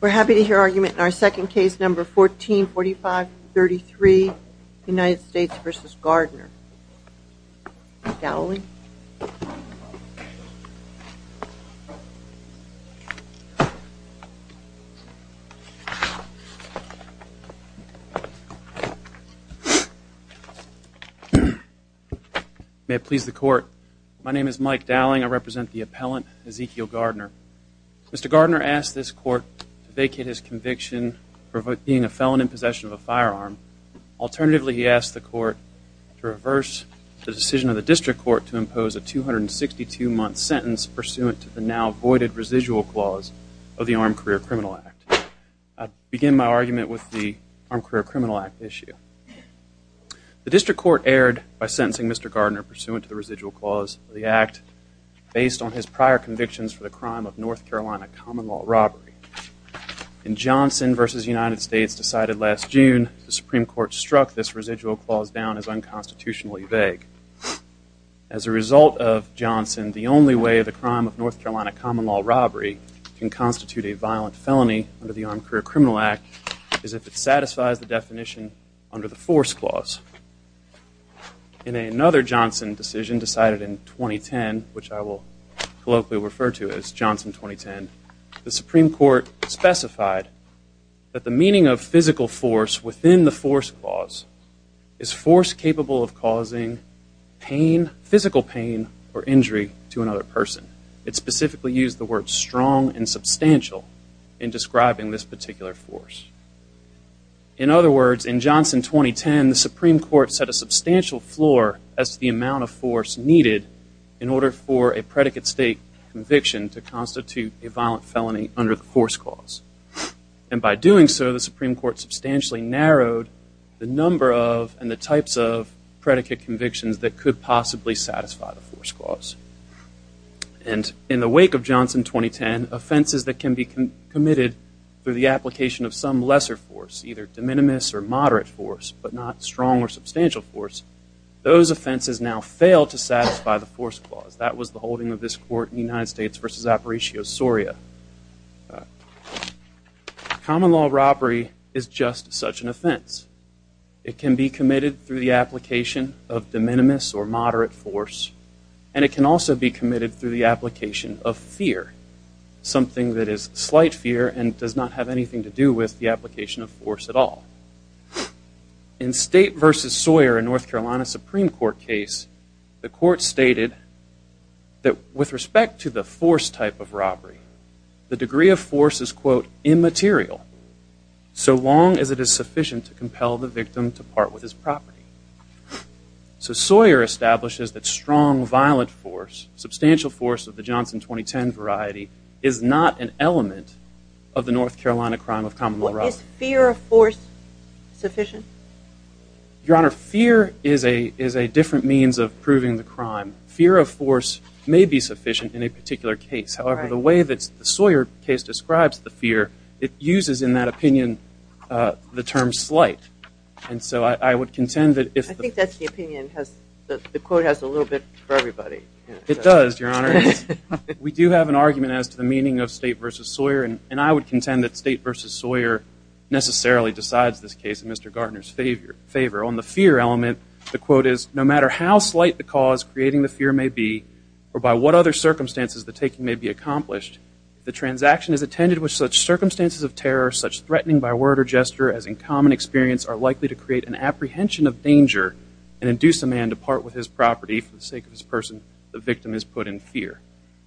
We're happy to hear argument in our second case, number 144533, United States v. Gardner. Mike Dowling May it please the court, my name is Mike Dowling, I represent the appellant Ezekiel Gardner. Mr. Gardner asked this court to vacate his conviction for being a felon in possession of a firearm. Alternatively, he asked the court to reverse the decision of the district court to impose a 262-month sentence pursuant to the now-voided residual clause of the Armed Career Criminal Act. I begin my argument with the Armed Career Criminal Act issue. The district court erred by sentencing Mr. Gardner pursuant to the residual clause of the Act based on his prior convictions for the crime of North Carolina common law robbery. In Johnson v. United States decided last June, the Supreme Court struck this residual clause down as unconstitutionally vague. As a result of Johnson, the only way the crime of North Carolina common law robbery can constitute a violent felony under the Armed Career Criminal Act is if it satisfies the definition under the force clause. In another Johnson decision decided in 2010, which I will colloquially refer to as Johnson 2010, the Supreme Court specified that the meaning of physical force within the force clause is force capable of causing physical pain or injury to another person. It specifically used the words strong and substantial in describing this particular force. In other words, in Johnson 2010, the Supreme Court set a substantial floor as to the amount of force needed in order for a predicate state conviction to constitute a violent felony under the force clause. And by doing so, the Supreme Court substantially narrowed the number of and the types of predicate convictions that could possibly satisfy the force clause. And in the wake of Johnson 2010, offenses that can be committed through the application of some lesser force, either de minimis or moderate force, but not strong or substantial force, those offenses now fail to satisfy the force clause. That was the holding of this court in the United States v. Aparicio Soria. Common law robbery is just such an offense. It can be committed through the application of de minimis or moderate force, and it can also be committed through the application of fear, something that is slight fear and does not have anything to do with the application of force at all. In State v. Sawyer, a North Carolina Supreme Court case, the court stated that with respect to the force type of robbery, the degree of force is, quote, immaterial so long as it is sufficient to compel the victim to part with his property. So Sawyer establishes that strong violent force, substantial force of the Johnson 2010 variety, is not an element of the North Carolina crime of common law robbery. Is fear of force sufficient? Your Honor, fear is a different means of proving the crime. Fear of force may be sufficient in a particular case. However, the way that the Sawyer case describes the fear, it uses in that opinion the term slight. And so I would contend that if the – I think that's the opinion the court has a little bit for everybody. It does, Your Honor. We do have an argument as to the meaning of State v. Sawyer, and I would contend that State v. Sawyer necessarily decides this case in Mr. Gartner's favor. On the fear element, the quote is, or by what other circumstances the taking may be accomplished, if the transaction is attended with such circumstances of terror, such threatening by word or gesture as in common experience, are likely to create an apprehension of danger and induce a man to part with his property for the sake of his person, the victim is put in fear.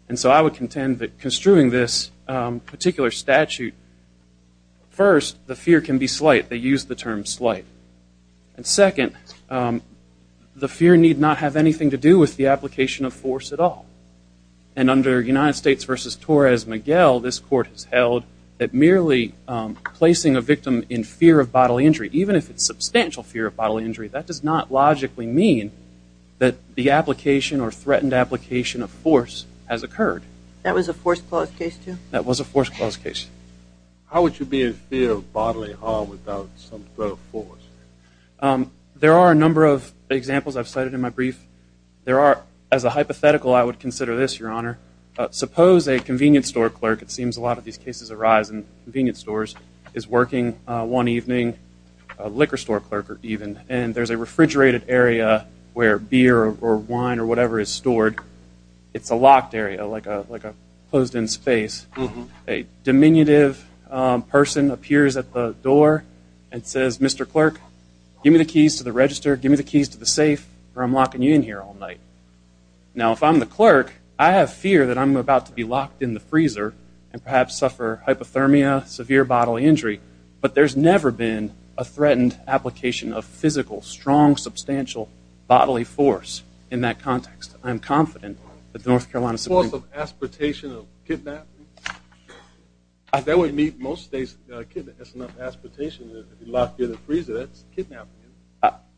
And so I would contend that construing this particular statute, first, the fear can be slight. They use the term slight. And second, the fear need not have anything to do with the application of force at all. And under United States v. Torres-Miguel, this court has held that merely placing a victim in fear of bodily injury, even if it's substantial fear of bodily injury, that does not logically mean that the application or threatened application of force has occurred. That was a force clause case, too? That was a force clause case. How would you be in fear of bodily harm without some sort of force? There are a number of examples I've cited in my brief. There are, as a hypothetical, I would consider this, Your Honor. Suppose a convenience store clerk, it seems a lot of these cases arise in convenience stores, is working one evening, a liquor store clerk even, and there's a refrigerated area where beer or wine or whatever is stored. It's a locked area, like a closed-in space. A diminutive person appears at the door and says, Mr. Clerk, give me the keys to the register, give me the keys to the safe, or I'm locking you in here all night. Now, if I'm the clerk, I have fear that I'm about to be locked in the freezer and perhaps suffer hypothermia, severe bodily injury. But there's never been a threatened application of physical, strong, substantial bodily force in that context. I am confident that the North Carolina Supreme Court – Force of aspiratation of kidnapping? That would meet most states. That's not aspiratation. If you lock beer in the freezer, that's kidnapping.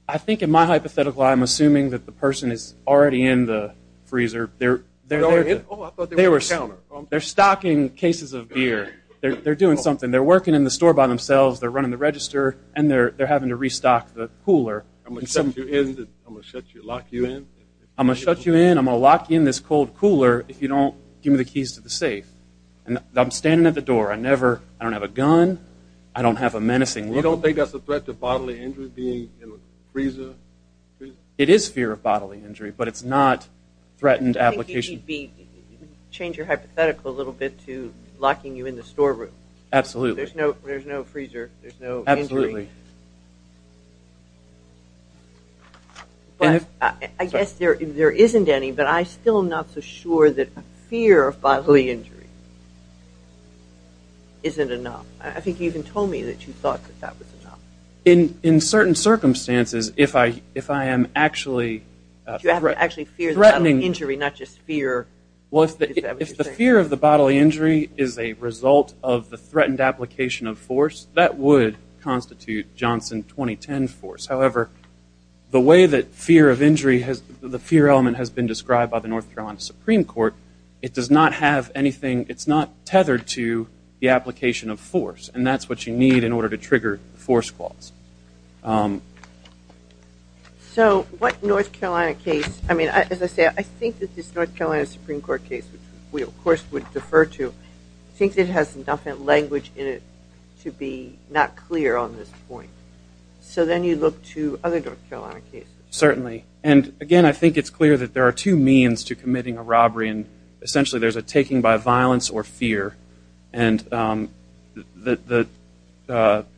I think in my hypothetical, I'm assuming that the person is already in the freezer. Oh, I thought they were on the counter. They're stocking cases of beer. They're doing something. They're working in the store by themselves. They're running the register, and they're having to restock the cooler. I'm going to shut you in? I'm going to lock you in? I'm going to shut you in? I'm going to lock you in this cold cooler if you don't give me the keys to the safe. I'm standing at the door. I don't have a gun. I don't have a menacing look. You don't think that's a threat to bodily injury, being in a freezer? It is fear of bodily injury, but it's not threatened application. I think you need to change your hypothetical a little bit to locking you in the storeroom. Absolutely. There's no freezer. There's no injury. Absolutely. I guess there isn't any, but I still am not so sure that fear of bodily injury isn't enough. I think you even told me that you thought that that was enough. In certain circumstances, if I am actually threatening injury, not just fear. Well, if the fear of the bodily injury is a result of the threatened application of force, that would constitute Johnson 2010 force. However, the way that fear of injury, the fear element, has been described by the North Carolina Supreme Court, it does not have anything. It's not tethered to the application of force, and that's what you need in order to trigger the force clause. So what North Carolina case, I mean, as I say, I think that this North Carolina Supreme Court case, which we, of course, would defer to, I think it has enough language in it to be not clear on this point. So then you look to other North Carolina cases. Certainly. And, again, I think it's clear that there are two means to committing a robbery, and essentially there's a taking by violence or fear. And the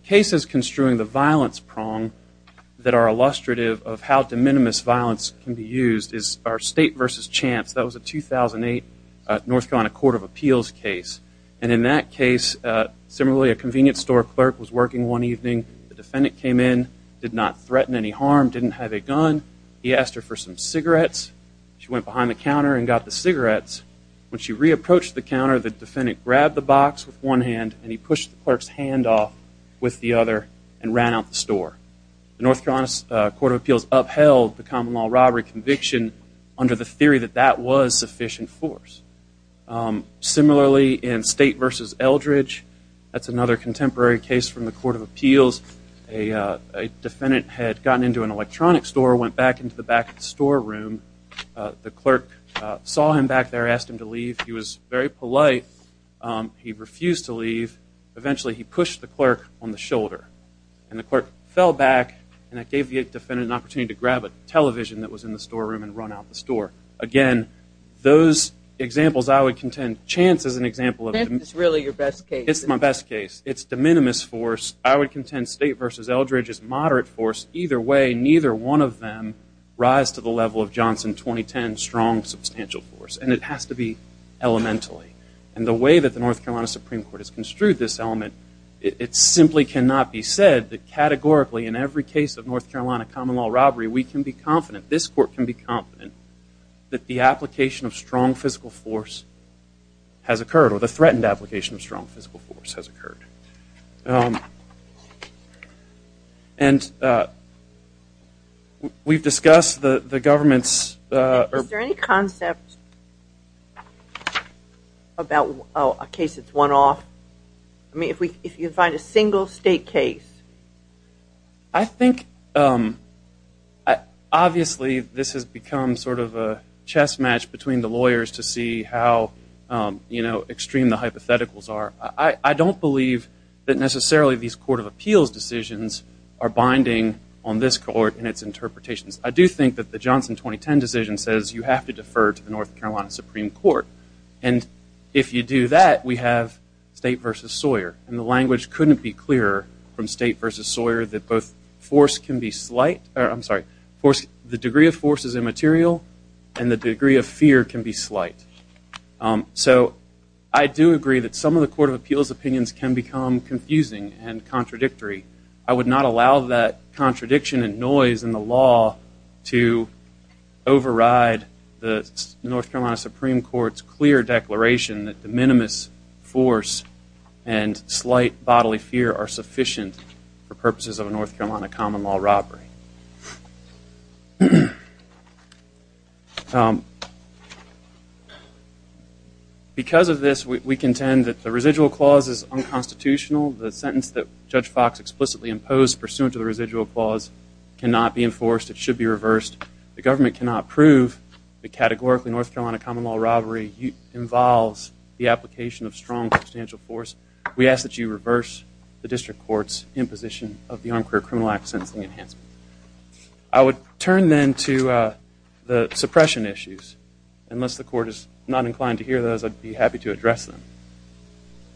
cases construing the violence prong that are illustrative of how de minimis violence can be used is our state versus chance. That was a 2008 North Carolina Court of Appeals case. And in that case, similarly, a convenience store clerk was working one evening. The defendant came in, did not threaten any harm, didn't have a gun. He asked her for some cigarettes. She went behind the counter and got the cigarettes. When she re-approached the counter, the defendant grabbed the box with one hand, and he pushed the clerk's hand off with the other and ran out the store. The North Carolina Court of Appeals upheld the common law robbery conviction under the theory that that was sufficient force. Similarly, in State versus Eldridge, that's another contemporary case from the Court of Appeals. A defendant had gotten into an electronics store, went back into the back of the store room. The clerk saw him back there, asked him to leave. He was very polite. He refused to leave. Eventually he pushed the clerk on the shoulder. And the clerk fell back, and that gave the defendant an opportunity to grab a television that was in the store room and run out the store. Again, those examples I would contend. Chance is an example of them. This is really your best case. It's my best case. It's de minimis force. I would contend State versus Eldridge is moderate force. Either way, neither one of them rise to the level of Johnson 2010, strong, substantial force. And it has to be elementally. And the way that the North Carolina Supreme Court has construed this element, it simply cannot be said that categorically in every case of North Carolina common law robbery, we can be confident, this court can be confident, that the application of strong physical force has occurred or the threatened application of strong physical force has occurred. And we've discussed the government's... Is there any concept about a case that's one-off? I mean, if you find a single state case. I think, obviously, this has become sort of a chess match between the lawyers to see how extreme the hypotheticals are. I don't believe that necessarily these court of appeals decisions are binding on this court and its interpretations. I do think that the Johnson 2010 decision says you have to defer to the North Carolina Supreme Court. And if you do that, we have State v. Sawyer. And the language couldn't be clearer from State v. Sawyer that both force can be slight. I'm sorry. The degree of force is immaterial and the degree of fear can be slight. So I do agree that some of the court of appeals opinions can become confusing and contradictory. I would not allow that contradiction and noise in the law to override the North Carolina Supreme Court's clear declaration that the minimus force and slight bodily fear are sufficient for purposes of a North Carolina common law robbery. Because of this, we contend that the residual clause is unconstitutional. The sentence that Judge Fox explicitly imposed pursuant to the residual clause cannot be enforced. It should be reversed. The government cannot prove that categorically North Carolina common law robbery involves the application of strong, substantial force. We ask that you reverse the district court's imposition of the Armed Career Criminal Act sentencing enhancement. I would turn then to the suppression issues. Unless the court is not inclined to hear those, I'd be happy to address them.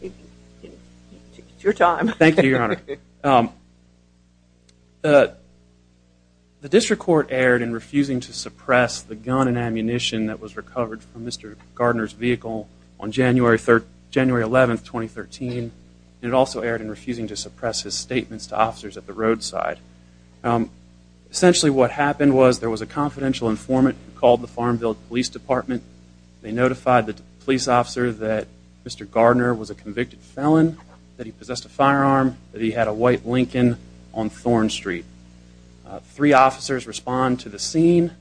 It's your time. Thank you, Your Honor. The district court erred in refusing to suppress the gun and ammunition that was recovered from Mr. Gardner's vehicle on January 11, 2013. It also erred in refusing to suppress his statements to officers at the roadside. Essentially what happened was there was a confidential informant who called the Farmville Police Department. They notified the police officer that Mr. Gardner was a convicted felon, that he possessed a firearm, that he had a white Lincoln on Thorn Street. Three officers respond to the scene.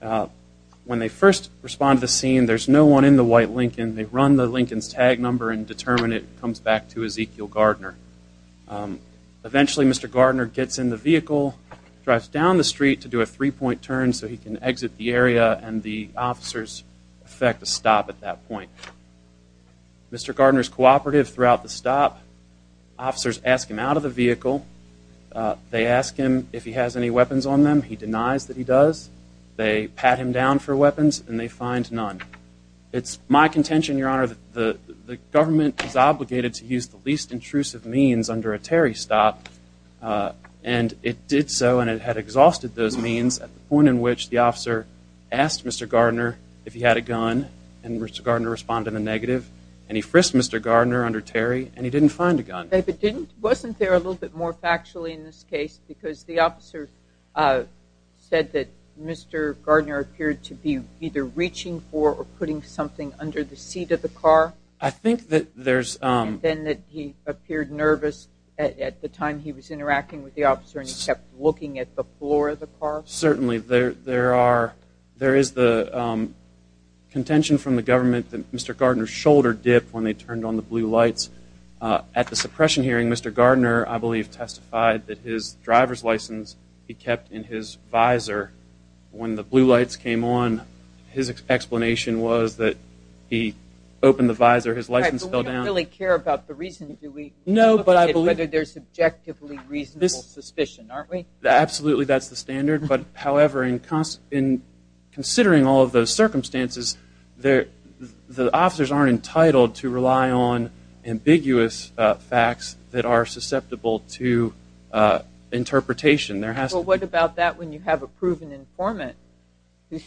When they first respond to the scene, there's no one in the white Lincoln. They run the Lincoln's tag number and determine it comes back to Ezekiel Gardner. Eventually, Mr. Gardner gets in the vehicle, drives down the street to do a three-point turn so he can exit the area, and the officers effect a stop at that point. Mr. Gardner is cooperative throughout the stop. Officers ask him out of the vehicle. They ask him if he has any weapons on them. He denies that he does. They pat him down for weapons, and they find none. It's my contention, Your Honor, that the government is obligated to use the least intrusive means under a Terry stop, and it did so, and it had exhausted those means at the point in which the officer asked Mr. Gardner if he had a gun, and Mr. Gardner responded in a negative, and he frisked Mr. Gardner under Terry, and he didn't find a gun. But wasn't there a little bit more factually in this case, because the officer said that Mr. Gardner appeared to be either reaching for or putting something under the seat of the car? I think that there's... And then that he appeared nervous at the time he was interacting with the officer and he kept looking at the floor of the car? Certainly. There is the contention from the government that Mr. Gardner's shoulder dipped when they turned on the blue lights. At the suppression hearing, Mr. Gardner, I believe, testified that his driver's license he kept in his visor. When the blue lights came on, his explanation was that he opened the visor, his license fell down. But we don't really care about the reason, do we? No, but I believe... Whether there's subjectively reasonable suspicion, aren't we? Absolutely, that's the standard. But, however, in considering all of those circumstances, the officers aren't entitled to rely on ambiguous facts that are susceptible to interpretation. Well, what about that when you have a proven informant who's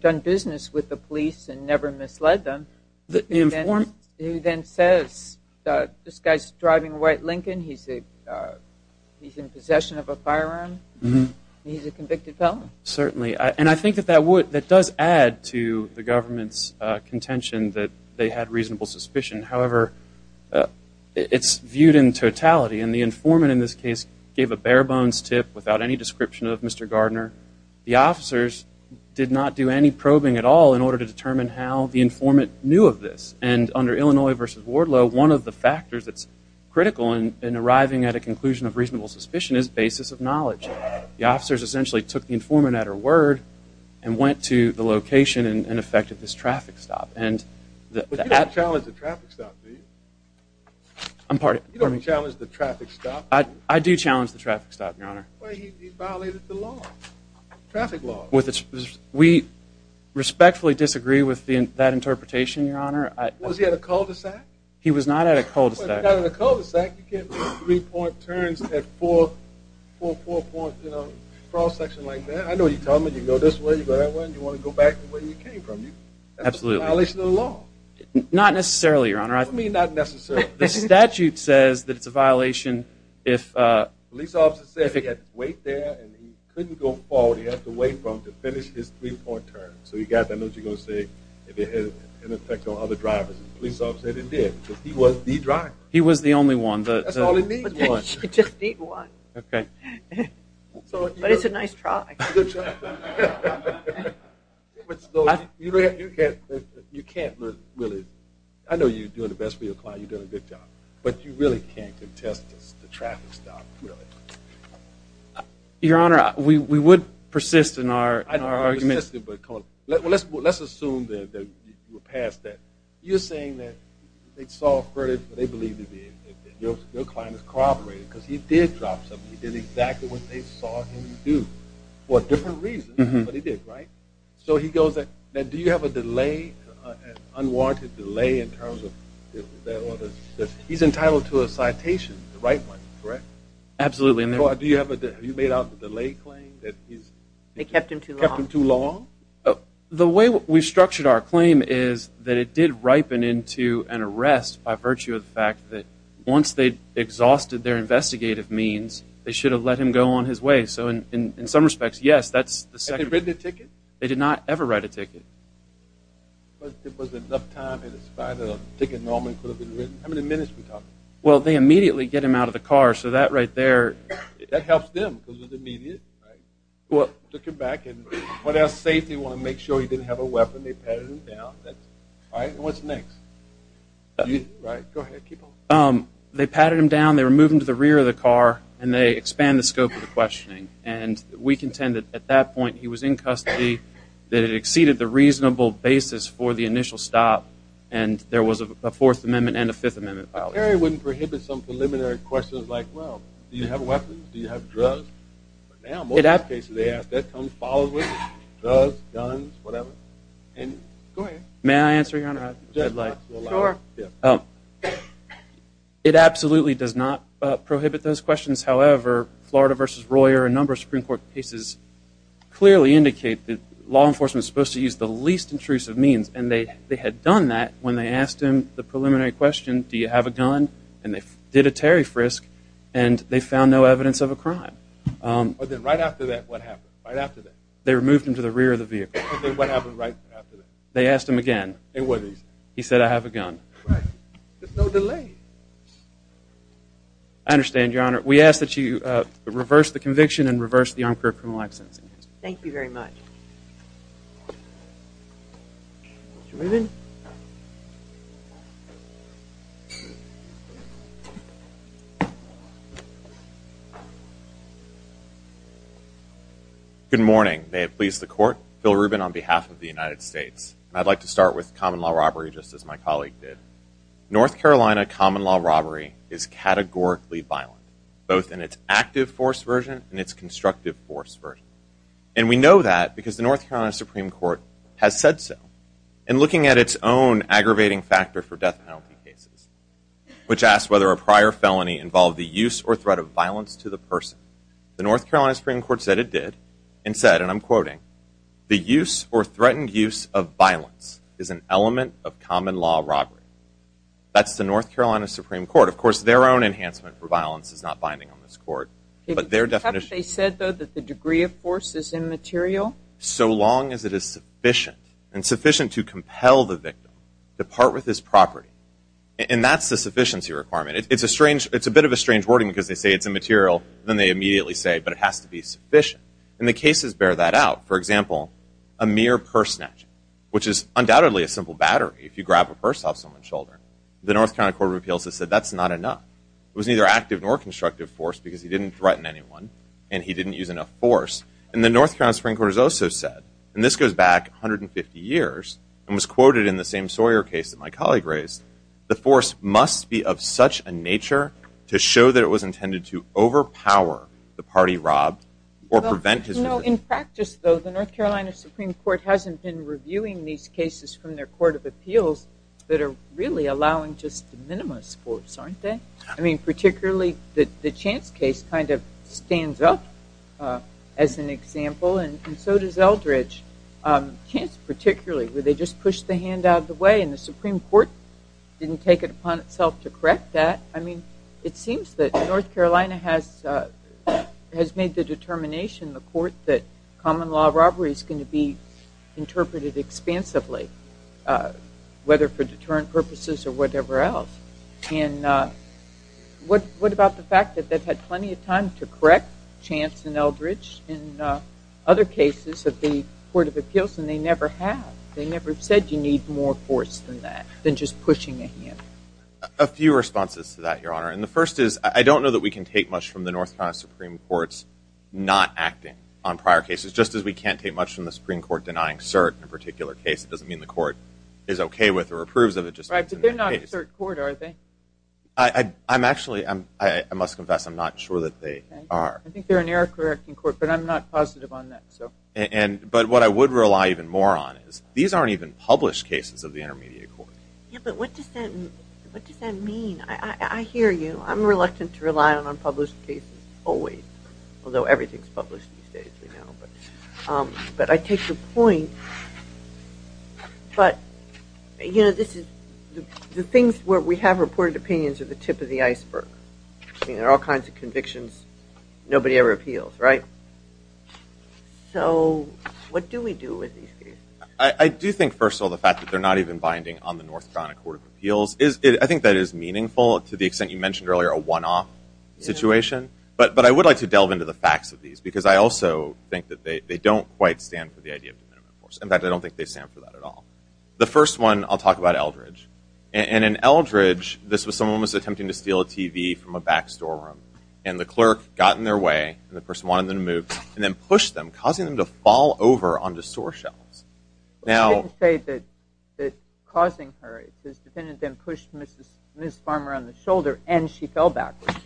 done business with the police and never misled them? The informant? He then says, this guy's driving a white Lincoln, he's in possession of a firearm, he's a convicted felon. Certainly, and I think that does add to the government's contention that they had reasonable suspicion. However, it's viewed in totality, and the informant in this case gave a bare-bones tip without any description of Mr. Gardner. The officers did not do any probing at all in order to determine how the informant knew of this, and under Illinois v. Wardlow, one of the factors that's critical in arriving at a conclusion of reasonable suspicion is basis of knowledge. The officers essentially took the informant at her word and went to the location and effected this traffic stop. But you don't challenge the traffic stop, do you? I'm pardon? You don't challenge the traffic stop? I do challenge the traffic stop, Your Honor. Well, he violated the law, traffic law. We respectfully disagree with that interpretation, Your Honor. Was he at a cul-de-sac? He was not at a cul-de-sac. If he got at a cul-de-sac, you can't make three-point turns at a four-point cross-section like that. I know you tell me you go this way, you go that way, and you want to go back the way you came from. That's a violation of the law. Not necessarily, Your Honor. What do you mean, not necessarily? The statute says that it's a violation if... to finish his three-point turn. So you got that, I know what you're going to say, if it had an effect on other drivers. The police officer said it did because he was the driver. He was the only one. That's all he needs is one. He just needs one. Okay. But it's a nice try. It's a good try. You can't really... I know you're doing the best for your client, you're doing a good job, but you really can't contest the traffic stop, really. Your Honor, we would persist in our argument. I don't want to persist, but let's assume that you were passed that. You're saying that they saw a verdict, but they believe that your client has corroborated because he did drop something. He did exactly what they saw him do for a different reason, but he did, right? So he goes, do you have an unwarranted delay in terms of that order? He's entitled to a citation, the right one, correct? Absolutely. Do you have a delay claim that he's... They kept him too long. Kept him too long? The way we structured our claim is that it did ripen into an arrest by virtue of the fact that once they'd exhausted their investigative means, they should have let him go on his way. So in some respects, yes, that's the second... Had they written a ticket? They did not ever write a ticket. But there wasn't enough time in spite of the ticket normally could have been written. How many minutes are we talking? Well, they immediately get him out of the car, so that right there... That helps them because it's immediate, right? Took him back, and what else? Safety, want to make sure he didn't have a weapon, they patted him down. All right, and what's next? Right, go ahead, keep going. They patted him down, they removed him to the rear of the car, and they expand the scope of the questioning. And we contend that at that point he was in custody, that it exceeded the reasonable basis for the initial stop, and there was a Fourth Amendment and a Fifth Amendment violation. But Perry wouldn't prohibit some preliminary questions like, well, do you have weapons, do you have drugs? Now, most of the cases they ask, that comes followed with drugs, guns, whatever. Go ahead. May I answer, Your Honor? Sure. It absolutely does not prohibit those questions. However, Florida v. Royer and a number of Supreme Court cases clearly indicate that law enforcement is supposed to use the least intrusive means, and they had done that when they asked him the preliminary question, do you have a gun? And they did a Terry frisk, and they found no evidence of a crime. But then right after that, what happened? They removed him to the rear of the vehicle. And then what happened right after that? They asked him again. It wasn't easy. He said, I have a gun. Right. There's no delay. I understand, Your Honor. We ask that you reverse the conviction and reverse the armed criminal act sentencing. Thank you very much. Mr. Rubin? Good morning. May it please the Court, Phil Rubin on behalf of the United States. I'd like to start with common law robbery, just as my colleague did. North Carolina common law robbery is categorically violent, both in its active force version and its constructive force version. And we know that because the North Carolina Supreme Court has said so. In looking at its own aggravating factor for death penalty cases, which asks whether a prior felony involved the use or threat of violence to the person, the North Carolina Supreme Court said it did and said, and I'm quoting, the use or threatened use of violence is an element of common law robbery. That's the North Carolina Supreme Court. Of course, their own enhancement for violence is not binding on this Court. Have they said, though, that the degree of force is immaterial? So long as it is sufficient and sufficient to compel the victim to part with his property. And that's the sufficiency requirement. It's a bit of a strange wording because they say it's immaterial, and then they immediately say, but it has to be sufficient. And the cases bear that out. For example, a mere purse snatch, which is undoubtedly a simple battery. If you grab a purse off someone's shoulder, the North Carolina Court of Appeals has said that's not enough. It was neither active nor constructive force because he didn't threaten anyone and he didn't use enough force. And the North Carolina Supreme Court has also said, and this goes back 150 years and was quoted in the same Sawyer case that my colleague raised, the force must be of such a nature to show that it was intended to overpower the party robbed or prevent his victim. In practice, though, the North Carolina Supreme Court hasn't been reviewing these cases from their Court of Appeals that are really allowing just de minimis force, aren't they? I mean, particularly the Chance case kind of stands up as an example, and so does Eldridge. Chance, particularly, where they just pushed the hand out of the way and the Supreme Court didn't take it upon itself to correct that. I mean, it seems that North Carolina has made the determination, the court, that common law robbery is going to be interpreted expansively, whether for deterrent purposes or whatever else. And what about the fact that they've had plenty of time to correct Chance and Eldridge in other cases of the Court of Appeals, and they never have. They never said you need more force than that, than just pushing a hand. A few responses to that, Your Honor. And the first is I don't know that we can take much from the North Carolina Supreme Court's not acting on prior cases, just as we can't take much from the Supreme Court denying cert in a particular case. It doesn't mean the court is okay with or approves of it. Right, but they're not a cert court, are they? I'm actually, I must confess, I'm not sure that they are. I think they're an error-correcting court, but I'm not positive on that. But what I would rely even more on is these aren't even published cases of the intermediate court. Yeah, but what does that mean? I hear you. Well, I'm reluctant to rely on unpublished cases always, although everything is published these days, we know. But I take the point. But, you know, the things where we have reported opinions are the tip of the iceberg. I mean, there are all kinds of convictions. Nobody ever appeals, right? So what do we do with these cases? I do think, first of all, the fact that they're not even binding on the North Carolina Court of Appeals, I think that is meaningful to the extent you mentioned earlier a one-off situation. But I would like to delve into the facts of these, because I also think that they don't quite stand for the idea of de minima force. In fact, I don't think they stand for that at all. The first one, I'll talk about Eldridge. And in Eldridge, someone was attempting to steal a TV from a back storeroom, and the clerk got in their way, and the person wanted them to move, and then pushed them, causing them to fall over onto store shelves. You didn't say that causing her. The defendant then pushed Ms. Farmer on the shoulder, and she fell backwards.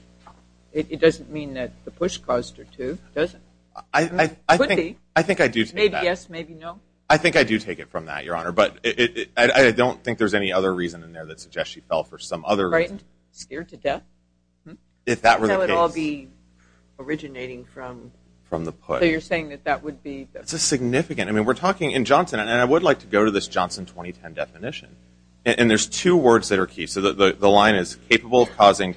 It doesn't mean that the push caused her to, does it? It could be. I think I do take that. Maybe yes, maybe no. I think I do take it from that, Your Honor. But I don't think there's any other reason in there that suggests she fell for some other reason. Frightened? Scared to death? If that were the case. So it would all be originating from the push. So you're saying that that would be... It's a significant, I mean, we're talking in Johnson, and I would like to go to this Johnson 2010 definition. And there's two words that are key. So the line is, capable of causing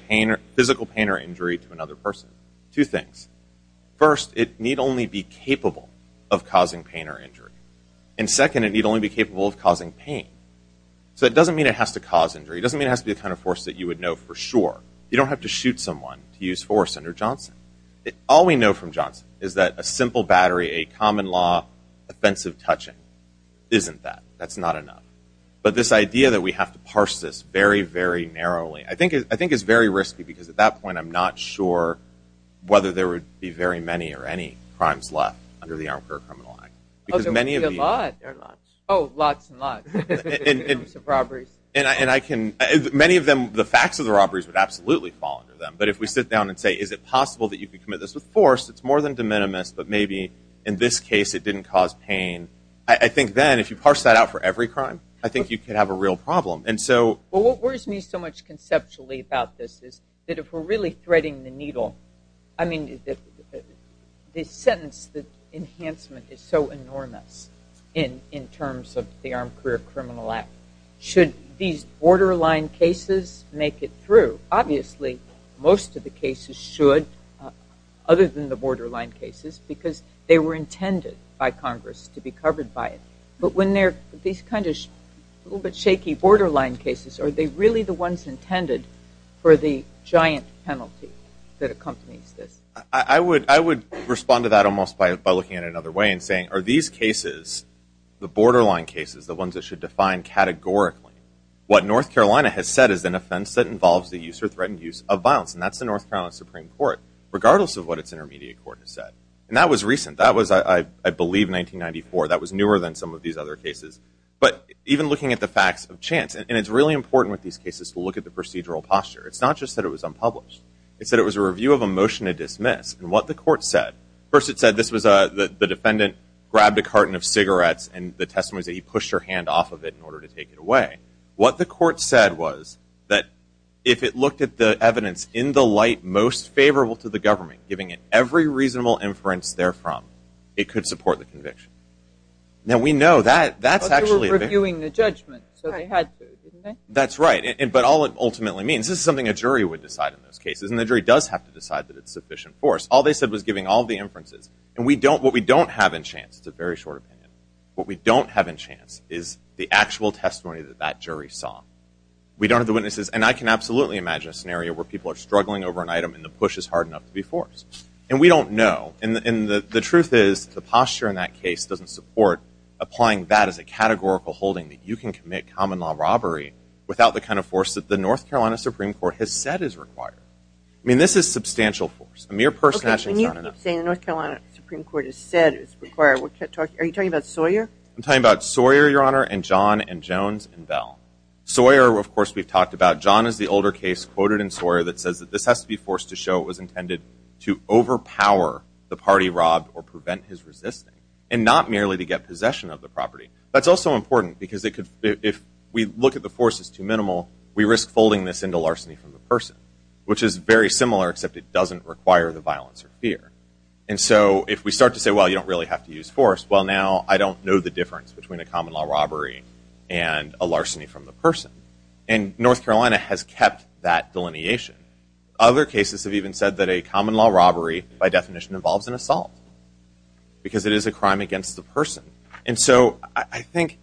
physical pain or injury to another person. Two things. First, it need only be capable of causing pain or injury. And second, it need only be capable of causing pain. So it doesn't mean it has to cause injury. It doesn't mean it has to be the kind of force that you would know for sure. You don't have to shoot someone to use force under Johnson. All we know from Johnson is that a simple battery, a common law, offensive touching, isn't that. That's not enough. But this idea that we have to parse this very, very narrowly, I think is very risky because at that point I'm not sure whether there would be very many or any crimes left under the armed court criminal act. Oh, there would be a lot. Oh, lots and lots. In terms of robberies. And I can... Many of them, the facts of the robberies would absolutely fall under them. But if we sit down and say, is it possible that you could commit this with force, it's more than de minimis, but maybe in this case it didn't cause pain. I think then if you parse that out for every crime, I think you could have a real problem. And so... Well, what worries me so much conceptually about this is that if we're really threading the needle, I mean, the sentence, the enhancement is so enormous in terms of the armed career criminal act. Should these borderline cases make it through? Obviously, most of the cases should, other than the borderline cases, because they were intended by Congress to be covered by it. But when these kind of little bit shaky borderline cases, are they really the ones intended for the giant penalty that accompanies this? I would respond to that almost by looking at it another way and saying, are these cases, the borderline cases, the ones that should define categorically, what North Carolina has said is an offense that involves the use or threatened use of violence, and that's the North Carolina Supreme Court, regardless of what its intermediate court has said. And that was recent. That was, I believe, 1994. That was newer than some of these other cases. But even looking at the facts of chance, and it's really important with these cases to look at the procedural posture. It's not just that it was unpublished. It's that it was a review of a motion to dismiss, and what the court said. First it said this was the defendant grabbed a carton of cigarettes, and the testimony was that he pushed her hand off of it in order to take it away. What the court said was that if it looked at the evidence in the light most favorable to the government, giving it every reasonable inference therefrom, it could support the conviction. Now, we know that's actually a very- But they were reviewing the judgment, so they had to, didn't they? That's right. But all it ultimately means, this is something a jury would decide in those cases, and the jury does have to decide that it's sufficient force. All they said was giving all the inferences. And what we don't have in chance, it's a very short opinion, what we don't have in chance is the actual testimony that that jury saw. We don't have the witnesses, and I can absolutely imagine a scenario where people are struggling over an item and the push is hard enough to be forced. And we don't know, and the truth is the posture in that case doesn't support applying that as a categorical holding that you can commit common law robbery without the kind of force that the North Carolina Supreme Court has said is required. I mean, this is substantial force. A mere purse snatching is not enough. Okay. And you keep saying the North Carolina Supreme Court has said it's required. Are you talking about Sawyer? I'm talking about Sawyer, Your Honor, and John and Jones and Bell. Sawyer, of course, we've talked about. John is the older case quoted in Sawyer that says that this has to be forced to show it was intended to overpower the party robbed or prevent his resisting and not merely to get possession of the property. That's also important because if we look at the force as too minimal, we risk folding this into larceny from the person, which is very similar except it doesn't require the violence or fear. And so if we start to say, well, you don't really have to use force, well, now I don't know the difference between a common law robbery and a larceny from the person. And North Carolina has kept that delineation. Other cases have even said that a common law robbery, by definition, involves an assault because it is a crime against the person. And so I think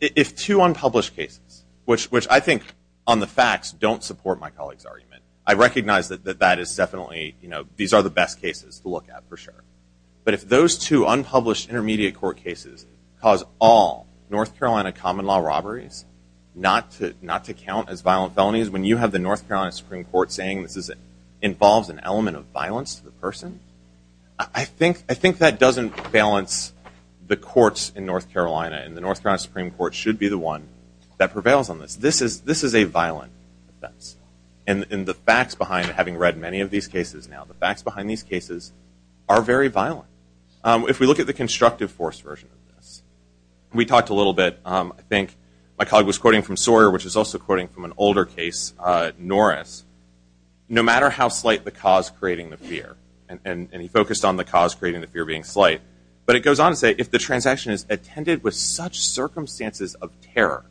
if two unpublished cases, which I think on the facts, don't support my colleague's argument, I recognize that that is definitely, these are the best cases to look at for sure. But if those two unpublished intermediate court cases cause all North Carolina common law robberies, not to count as violent felonies, when you have the North Carolina Supreme Court saying this involves an element of violence to the person, I think that doesn't balance the courts in North Carolina and the North Carolina Supreme Court should be the one that prevails on this. This is a violent offense. And the facts behind, having read many of these cases now, the facts behind these cases are very violent. If we look at the constructive force version of this, we talked a little bit, I think my colleague was quoting from Sawyer, which is also quoting from an older case, Norris, no matter how slight the cause creating the fear, and he focused on the cause creating the fear being slight, but it goes on to say, if the transaction is attended with such circumstances of terror,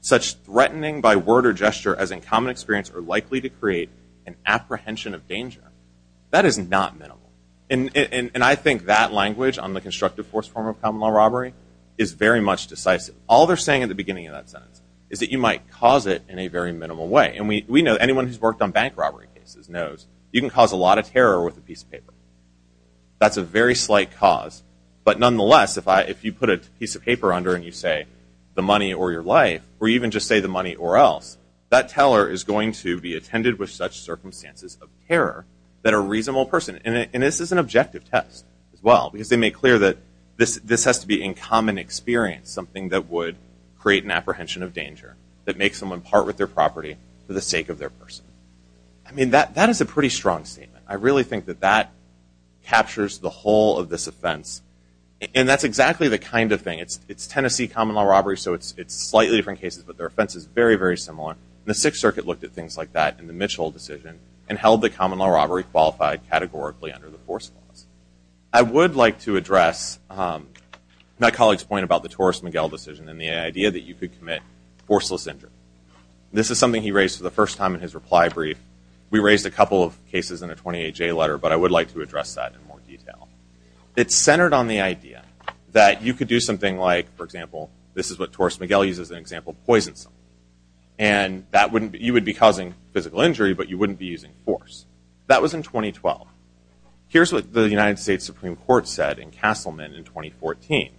such threatening by word or gesture as in common experience are likely to create an apprehension of danger, that is not minimal. And I think that language on the constructive force form of common law robbery is very much decisive. All they're saying at the beginning of that sentence is that you might cause it in a very minimal way. And we know anyone who's worked on bank robbery cases knows you can cause a lot of terror with a piece of paper. That's a very slight cause, but nonetheless, if you put a piece of paper under and you say, the money or your life, or even just say the money or else, that teller is going to be attended with such circumstances of terror that a reasonable person, and this is an objective test as well, because they make clear that this has to be in common experience, something that would create an apprehension of danger, that makes someone part with their property for the sake of their person. I mean, that is a pretty strong statement. I really think that that captures the whole of this offense, and that's exactly the kind of thing. It's Tennessee common law robbery, so it's slightly different cases, but their offense is very, very similar. The Sixth Circuit looked at things like that in the Mitchell decision and held that common law robbery qualified categorically under the force laws. I would like to address my colleague's point about the Torres-Miguel decision and the idea that you could commit forceless injury. This is something he raised for the first time in his reply brief. We raised a couple of cases in a 28-J letter, but I would like to address that in more detail. It's centered on the idea that you could do something like, for example, this is what Torres-Miguel uses as an example of poisonsome. You would be causing physical injury, but you wouldn't be using force. That was in 2012. Here's what the United States Supreme Court said in Castleman in 2014.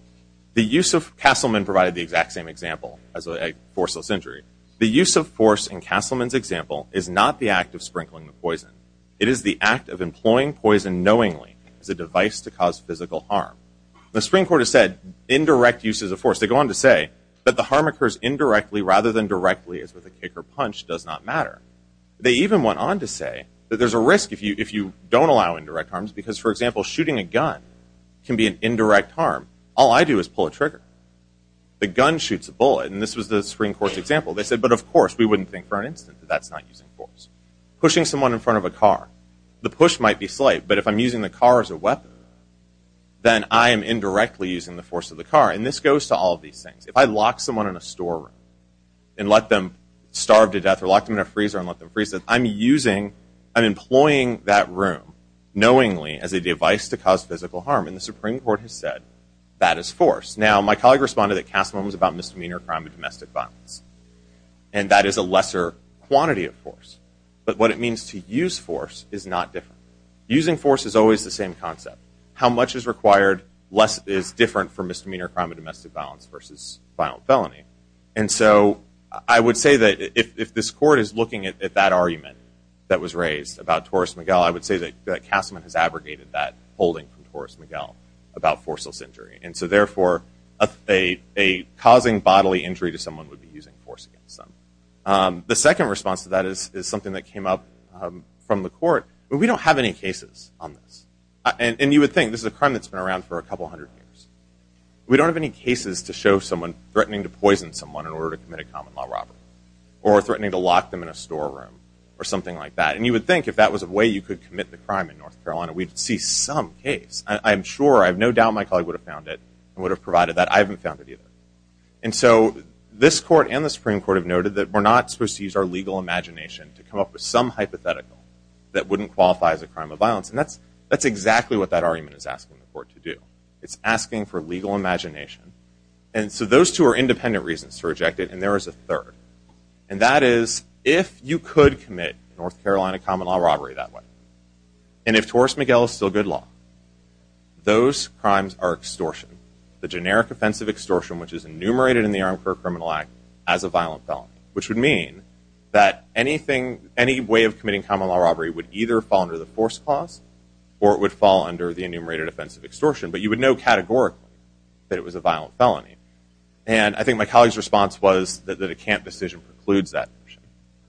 Castleman provided the exact same example as a forceless injury. The use of force in Castleman's example is not the act of sprinkling the poison. It is the act of employing poison knowingly as a device to cause physical harm. The Supreme Court has said indirect use is a force. They go on to say that the harm occurs indirectly rather than directly, as with a kick or punch does not matter. They even went on to say that there's a risk if you don't allow indirect harms because, for example, shooting a gun can be an indirect harm. All I do is pull a trigger. The gun shoots a bullet, and this was the Supreme Court's example. They said, but of course, we wouldn't think for an instant that that's not using force. Pushing someone in front of a car, the push might be slight, but if I'm using the car as a weapon, then I am indirectly using the force of the car, and this goes to all of these things. If I lock someone in a storeroom and let them starve to death or lock them in a freezer and let them freeze to death, I'm employing that room knowingly as a device to cause physical harm, and the Supreme Court has said that is force. Now, my colleague responded that Castleman was about misdemeanor crime and domestic violence, and that is a lesser quantity of force, but what it means to use force is not different. Using force is always the same concept. How much is required is different for misdemeanor crime and domestic violence versus final felony. And so I would say that if this Court is looking at that argument that was raised about Torres-Miguel, I would say that Castleman has abrogated that holding from Torres-Miguel about forceless injury, and so therefore a causing bodily injury to someone would be using force against them. The second response to that is something that came up from the Court. We don't have any cases on this, and you would think this is a crime that's been around for a couple hundred years. We don't have any cases to show someone threatening to poison someone in order to commit a common-law robbery or threatening to lock them in a storeroom or something like that, and you would think if that was a way you could commit the crime in North Carolina, we'd see some case. I'm sure, I have no doubt my colleague would have found it and would have provided that. I haven't found it either. And so this Court and the Supreme Court have noted that we're not supposed to use our legal imagination to come up with some hypothetical that wouldn't qualify as a crime of violence, and that's exactly what that argument is asking the Court to do. It's asking for legal imagination. And so those two are independent reasons to reject it, and there is a third, and that is if you could commit a North Carolina common-law robbery that way, and if Torres-Miguel is still good law, those crimes are extortion, the generic offense of extortion which is enumerated in the Armed Car Criminal Act as a violent felony, which would mean that any way of committing common-law robbery would either fall under the force clause or it would fall under the enumerated offense of extortion, but you would know categorically that it was a violent felony. And I think my colleague's response was that a camp decision precludes that.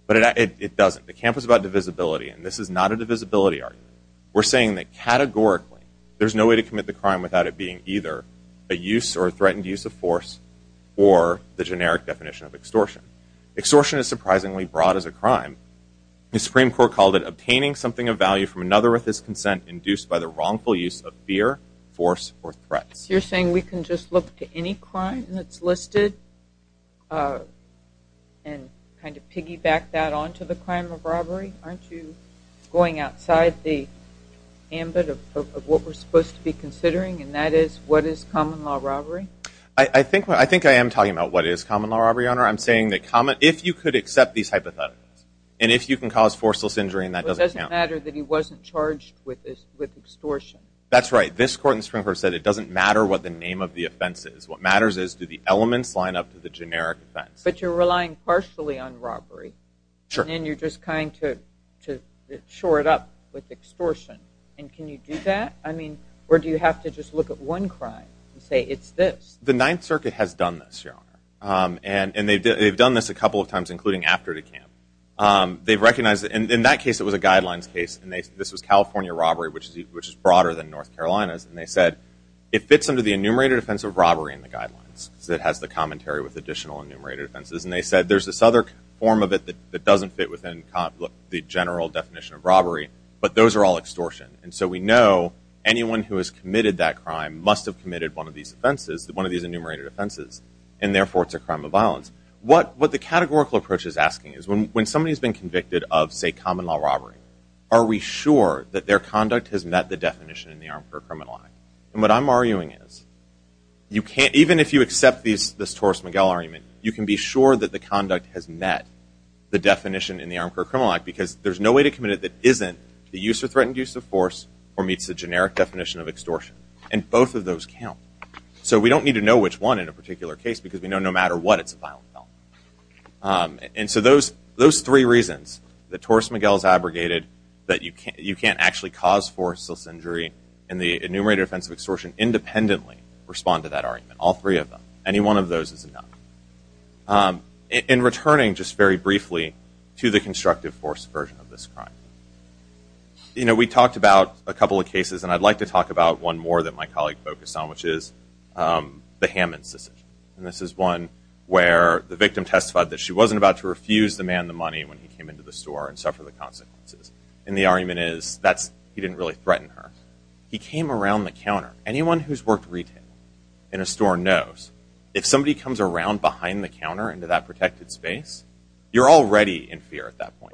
But it doesn't. The camp was about divisibility, and this is not a divisibility argument. We're saying that categorically there's no way to commit the crime without it being either a use or a threatened use of force or the generic definition of extortion. Extortion is surprisingly broad as a crime. The Supreme Court called it obtaining something of value from another with his consent induced by the wrongful use of fear, force, or threats. You're saying we can just look to any crime that's listed and kind of piggyback that onto the crime of robbery? Aren't you going outside the ambit of what we're supposed to be considering, and that is what is common-law robbery? I think I am talking about what is common-law robbery, Your Honor. I'm saying that if you could accept these hypotheticals and if you can cause forceless injury and that doesn't count. But it doesn't matter that he wasn't charged with extortion. That's right. This court in the Supreme Court said it doesn't matter what the name of the offense is. What matters is do the elements line up to the generic offense. But you're relying partially on robbery. Sure. And you're just trying to shore it up with extortion. And can you do that? I mean, or do you have to just look at one crime and say it's this? The Ninth Circuit has done this, Your Honor. And they've done this a couple of times, including after the camp. They've recognized it. In that case, it was a guidelines case. This was California robbery, which is broader than North Carolina's. And they said it fits under the enumerated offense of robbery in the guidelines because it has the commentary with additional enumerated offenses. And they said there's this other form of it that doesn't fit within the general definition of robbery, but those are all extortion. And so we know anyone who has committed that crime must have committed one of these enumerated offenses, and therefore it's a crime of violence. What the categorical approach is asking is when somebody has been convicted of, say, common-law robbery, are we sure that their conduct has met the definition in the Armed Career Criminal Act? And what I'm arguing is even if you accept this Torres-Miguel argument, you can be sure that the conduct has met the definition in the Armed Career Criminal Act because there's no way to commit it that isn't the use or threatened use of force or meets the generic definition of extortion. And both of those count. So we don't need to know which one in a particular case because we know no matter what it's a violent felony. And so those three reasons that Torres-Miguel's abrogated that you can't actually cause forceless injury in the enumerated offense of extortion independently respond to that argument, all three of them. Any one of those is enough. In returning just very briefly to the constructive force version of this crime, we talked about a couple of cases, and I'd like to talk about one more that my colleague focused on, which is the Hammons decision. And this is one where the victim testified that she wasn't about to refuse the man the money when he came into the store and suffer the consequences. And the argument is he didn't really threaten her. He came around the counter. Anyone who's worked retail in a store knows if somebody comes around behind the counter into that protected space, you're already in fear at that point.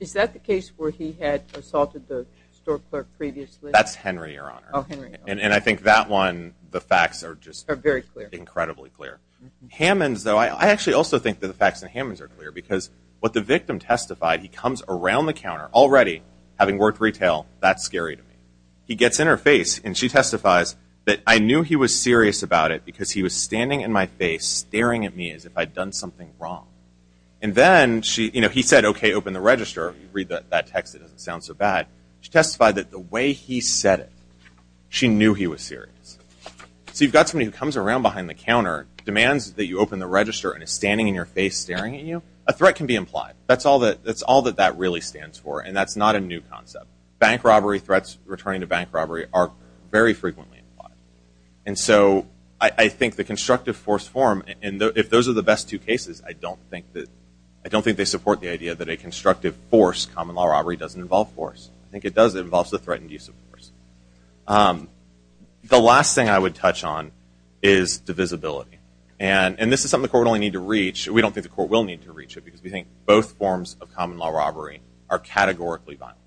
Is that the case where he had assaulted the store clerk previously? That's Henry, Your Honor. Oh, Henry. And I think that one, the facts are just incredibly clear. Hammons, though, I actually also think that the facts in Hammons are clear because what the victim testified, he comes around the counter already having worked retail, that's scary to me. He gets in her face, and she testifies that, I knew he was serious about it because he was standing in my face staring at me as if I'd done something wrong. And then he said, okay, open the register. Read that text, it doesn't sound so bad. She testified that the way he said it, she knew he was serious. So you've got somebody who comes around behind the counter, demands that you open the register, and is standing in your face staring at you, a threat can be implied. That's all that that really stands for, and that's not a new concept. Bank robbery threats, returning to bank robbery, are very frequently implied. And so I think the constructive force form, and if those are the best two cases, I don't think they support the idea that a constructive force, common law robbery doesn't involve force. I think it does, it involves the threatened use of force. The last thing I would touch on is divisibility. And this is something the court would only need to reach, we don't think the court will need to reach it, because we think both forms of common law robbery are categorically violent.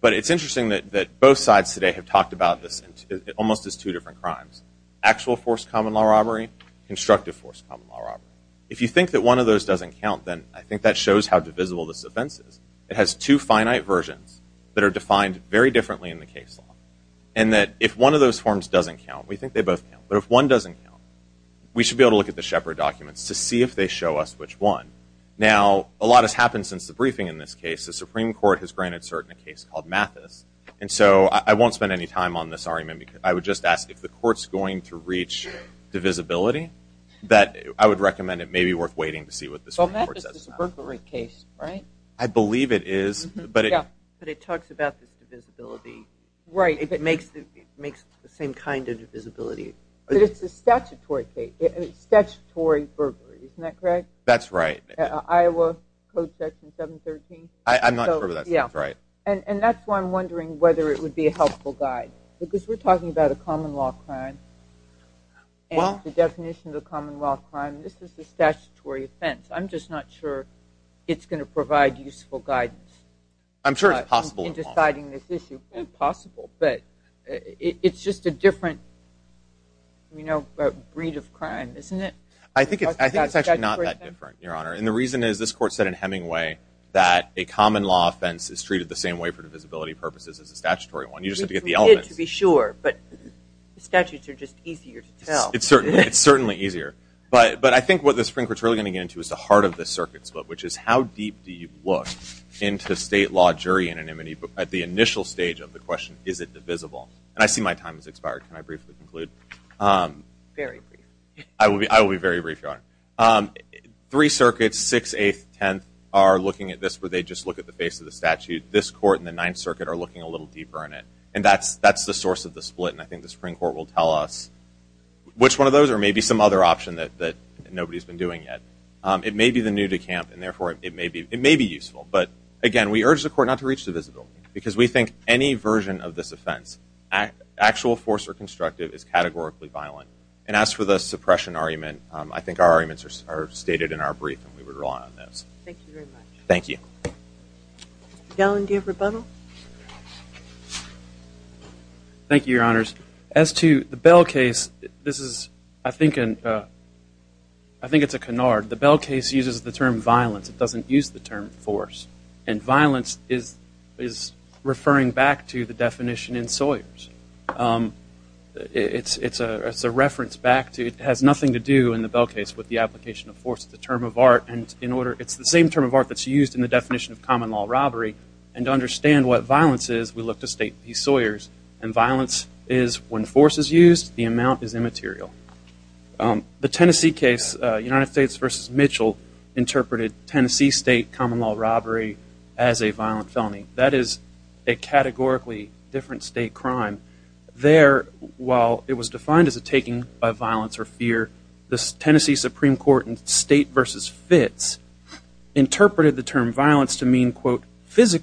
But it's interesting that both sides today have talked about this almost as two different crimes. Actual force common law robbery, constructive force common law robbery. If you think that one of those doesn't count, then I think that shows how divisible this offense is. It has two finite versions that are defined very differently in the case law. And that if one of those forms doesn't count, we think they both count, but if one doesn't count, we should be able to look at the Shepard documents to see if they show us which one. Now, a lot has happened since the briefing in this case. The Supreme Court has granted cert in a case called Mathis, and so I won't spend any time on this argument. I would just ask if the court's going to reach divisibility, that I would recommend it may be worth waiting to see what the Supreme Court says. Well, Mathis is a burglary case, right? I believe it is. But it talks about this divisibility. It makes the same kind of divisibility. But it's a statutory case. It's statutory burglary, isn't that correct? That's right. Iowa Code Section 713? I'm not sure that's right. And that's why I'm wondering whether it would be a helpful guide, because we're talking about a common law crime and the definition of a common law crime. This is a statutory offense. I'm just not sure it's going to provide useful guidance. I'm sure it's possible. In deciding this issue. It's possible. But it's just a different breed of crime, isn't it? I think it's actually not that different, Your Honor. And the reason is this court said in Hemingway that a common law offense is treated the same way for divisibility purposes as a statutory one. You just have to get the elements. Which we did, to be sure. But the statutes are just easier to tell. It's certainly easier. But I think what the Supreme Court is really going to get into is the heart of this circuit split, which is how deep do you look into state law jury anonymity at the initial stage of the question, is it divisible? And I see my time has expired. Can I briefly conclude? Very briefly. I will be very brief, Your Honor. Three circuits, 6th, 8th, 10th, are looking at this where they just look at the face of the statute. This court and the Ninth Circuit are looking a little deeper in it. And that's the source of the split. And I think the Supreme Court will tell us which one of those or maybe some other option that nobody has been doing yet. It may be the new decamp, and therefore it may be useful. But, again, we urge the court not to reach divisibility because we think any version of this offense, actual force or constructive, is categorically violent. And as for the suppression argument, I think our arguments are stated in our brief and we would rely on those. Thank you very much. Gellin, do you have rebuttal? Thank you, Your Honors. As to the Bell case, this is, I think it's a canard. The Bell case uses the term violence. It doesn't use the term force. And violence is referring back to the definition in Sawyers. It's a reference back to it has nothing to do in the Bell case with the application of force. It's the same term of art that's used in the definition of common law robbery. And to understand what violence is, we look to State v. Sawyers. And violence is when force is used, the amount is immaterial. The Tennessee case, United States v. Mitchell, interpreted Tennessee State common law robbery as a violent felony. That is a categorically different State crime. There, while it was defined as a taking by violence or fear, the Tennessee Supreme Court in State v. Fitz interpreted the term violence to mean, quote, so as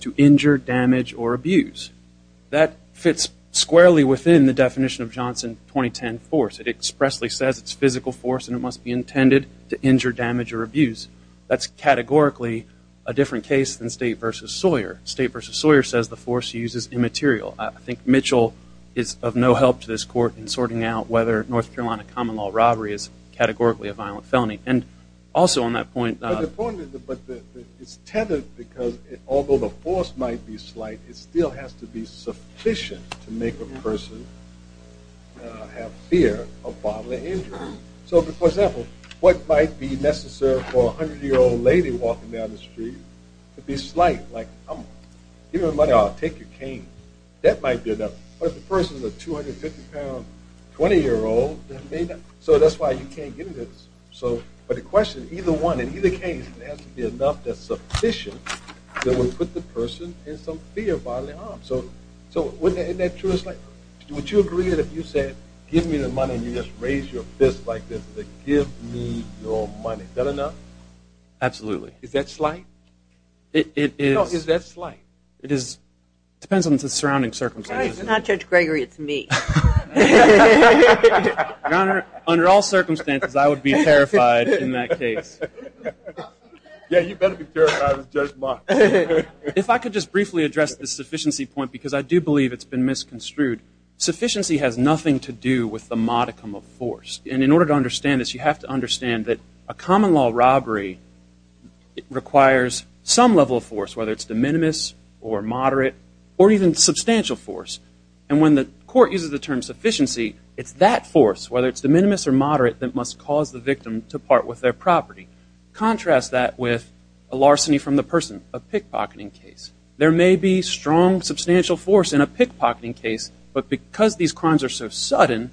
to injure, damage, or abuse. That fits squarely within the definition of Johnson 2010 force. It expressly says it's physical force and it must be intended to injure, damage, or abuse. That's categorically a different case than State v. Sawyer. State v. Sawyer says the force used is immaterial. I think Mitchell is of no help to this Court in sorting out whether North Carolina common law robbery is categorically a violent felony. It's tethered because although the force might be slight, it still has to be sufficient to make a person have fear of bodily injury. So, for example, what might be necessary for a 100-year-old lady walking down the street to be slight, like, give me my money, I'll take your cane. That might be enough. But if the person is a 250-pound 20-year-old, so that's why you can't give this. But the question, either one, in either case, it has to be enough that's sufficient that would put the person in some fear of bodily harm. So wouldn't that be true? Would you agree that if you said, give me the money, and you just raised your fist like this, that give me your money, is that enough? Absolutely. Is that slight? No, is that slight? It depends on the surrounding circumstances. It's not Judge Gregory, it's me. Your Honor, under all circumstances, I would be terrified in that case. Yeah, you better be terrified of Judge Mark. If I could just briefly address the sufficiency point, because I do believe it's been misconstrued, sufficiency has nothing to do with the modicum of force. And in order to understand this, you have to understand that a common law robbery requires some level of force, whether it's de minimis or moderate or even substantial force. And when the court uses the term sufficiency, it's that force, whether it's de minimis or moderate, that must cause the victim to part with their property. Contrast that with a larceny from the person, a pickpocketing case. There may be strong, substantial force in a pickpocketing case, but because these crimes are so sudden,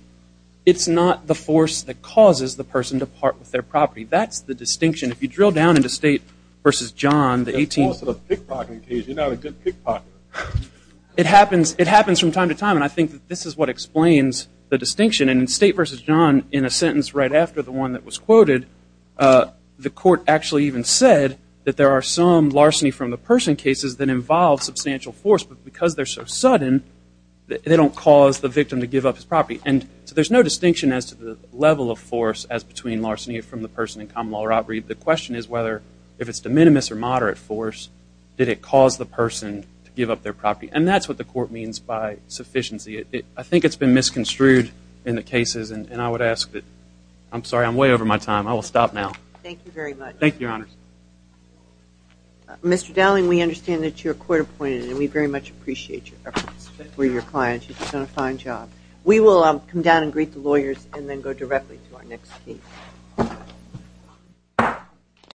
it's not the force that causes the person to part with their property. That's the distinction. If you drill down into State v. John, the 18th- That's the force of a pickpocketing case. You're not a good pickpocket. It happens from time to time, and I think that this is what explains the distinction. And in State v. John, in a sentence right after the one that was quoted, the court actually even said that there are some larceny from the person cases that involve substantial force, but because they're so sudden, they don't cause the victim to give up his property. And so there's no distinction as to the level of force as between larceny from the person and common law robbery. The question is whether, if it's de minimis or moderate force, did it cause the person to give up their property? And that's what the court means by sufficiency. I think it's been misconstrued in the cases, and I would ask that-I'm sorry, I'm way over my time. I will stop now. Thank you very much. Thank you, Your Honor. Mr. Dowling, we understand that you're court-appointed, and we very much appreciate your efforts for your clients. You've done a fine job. We will come down and greet the lawyers and then go directly to our next case.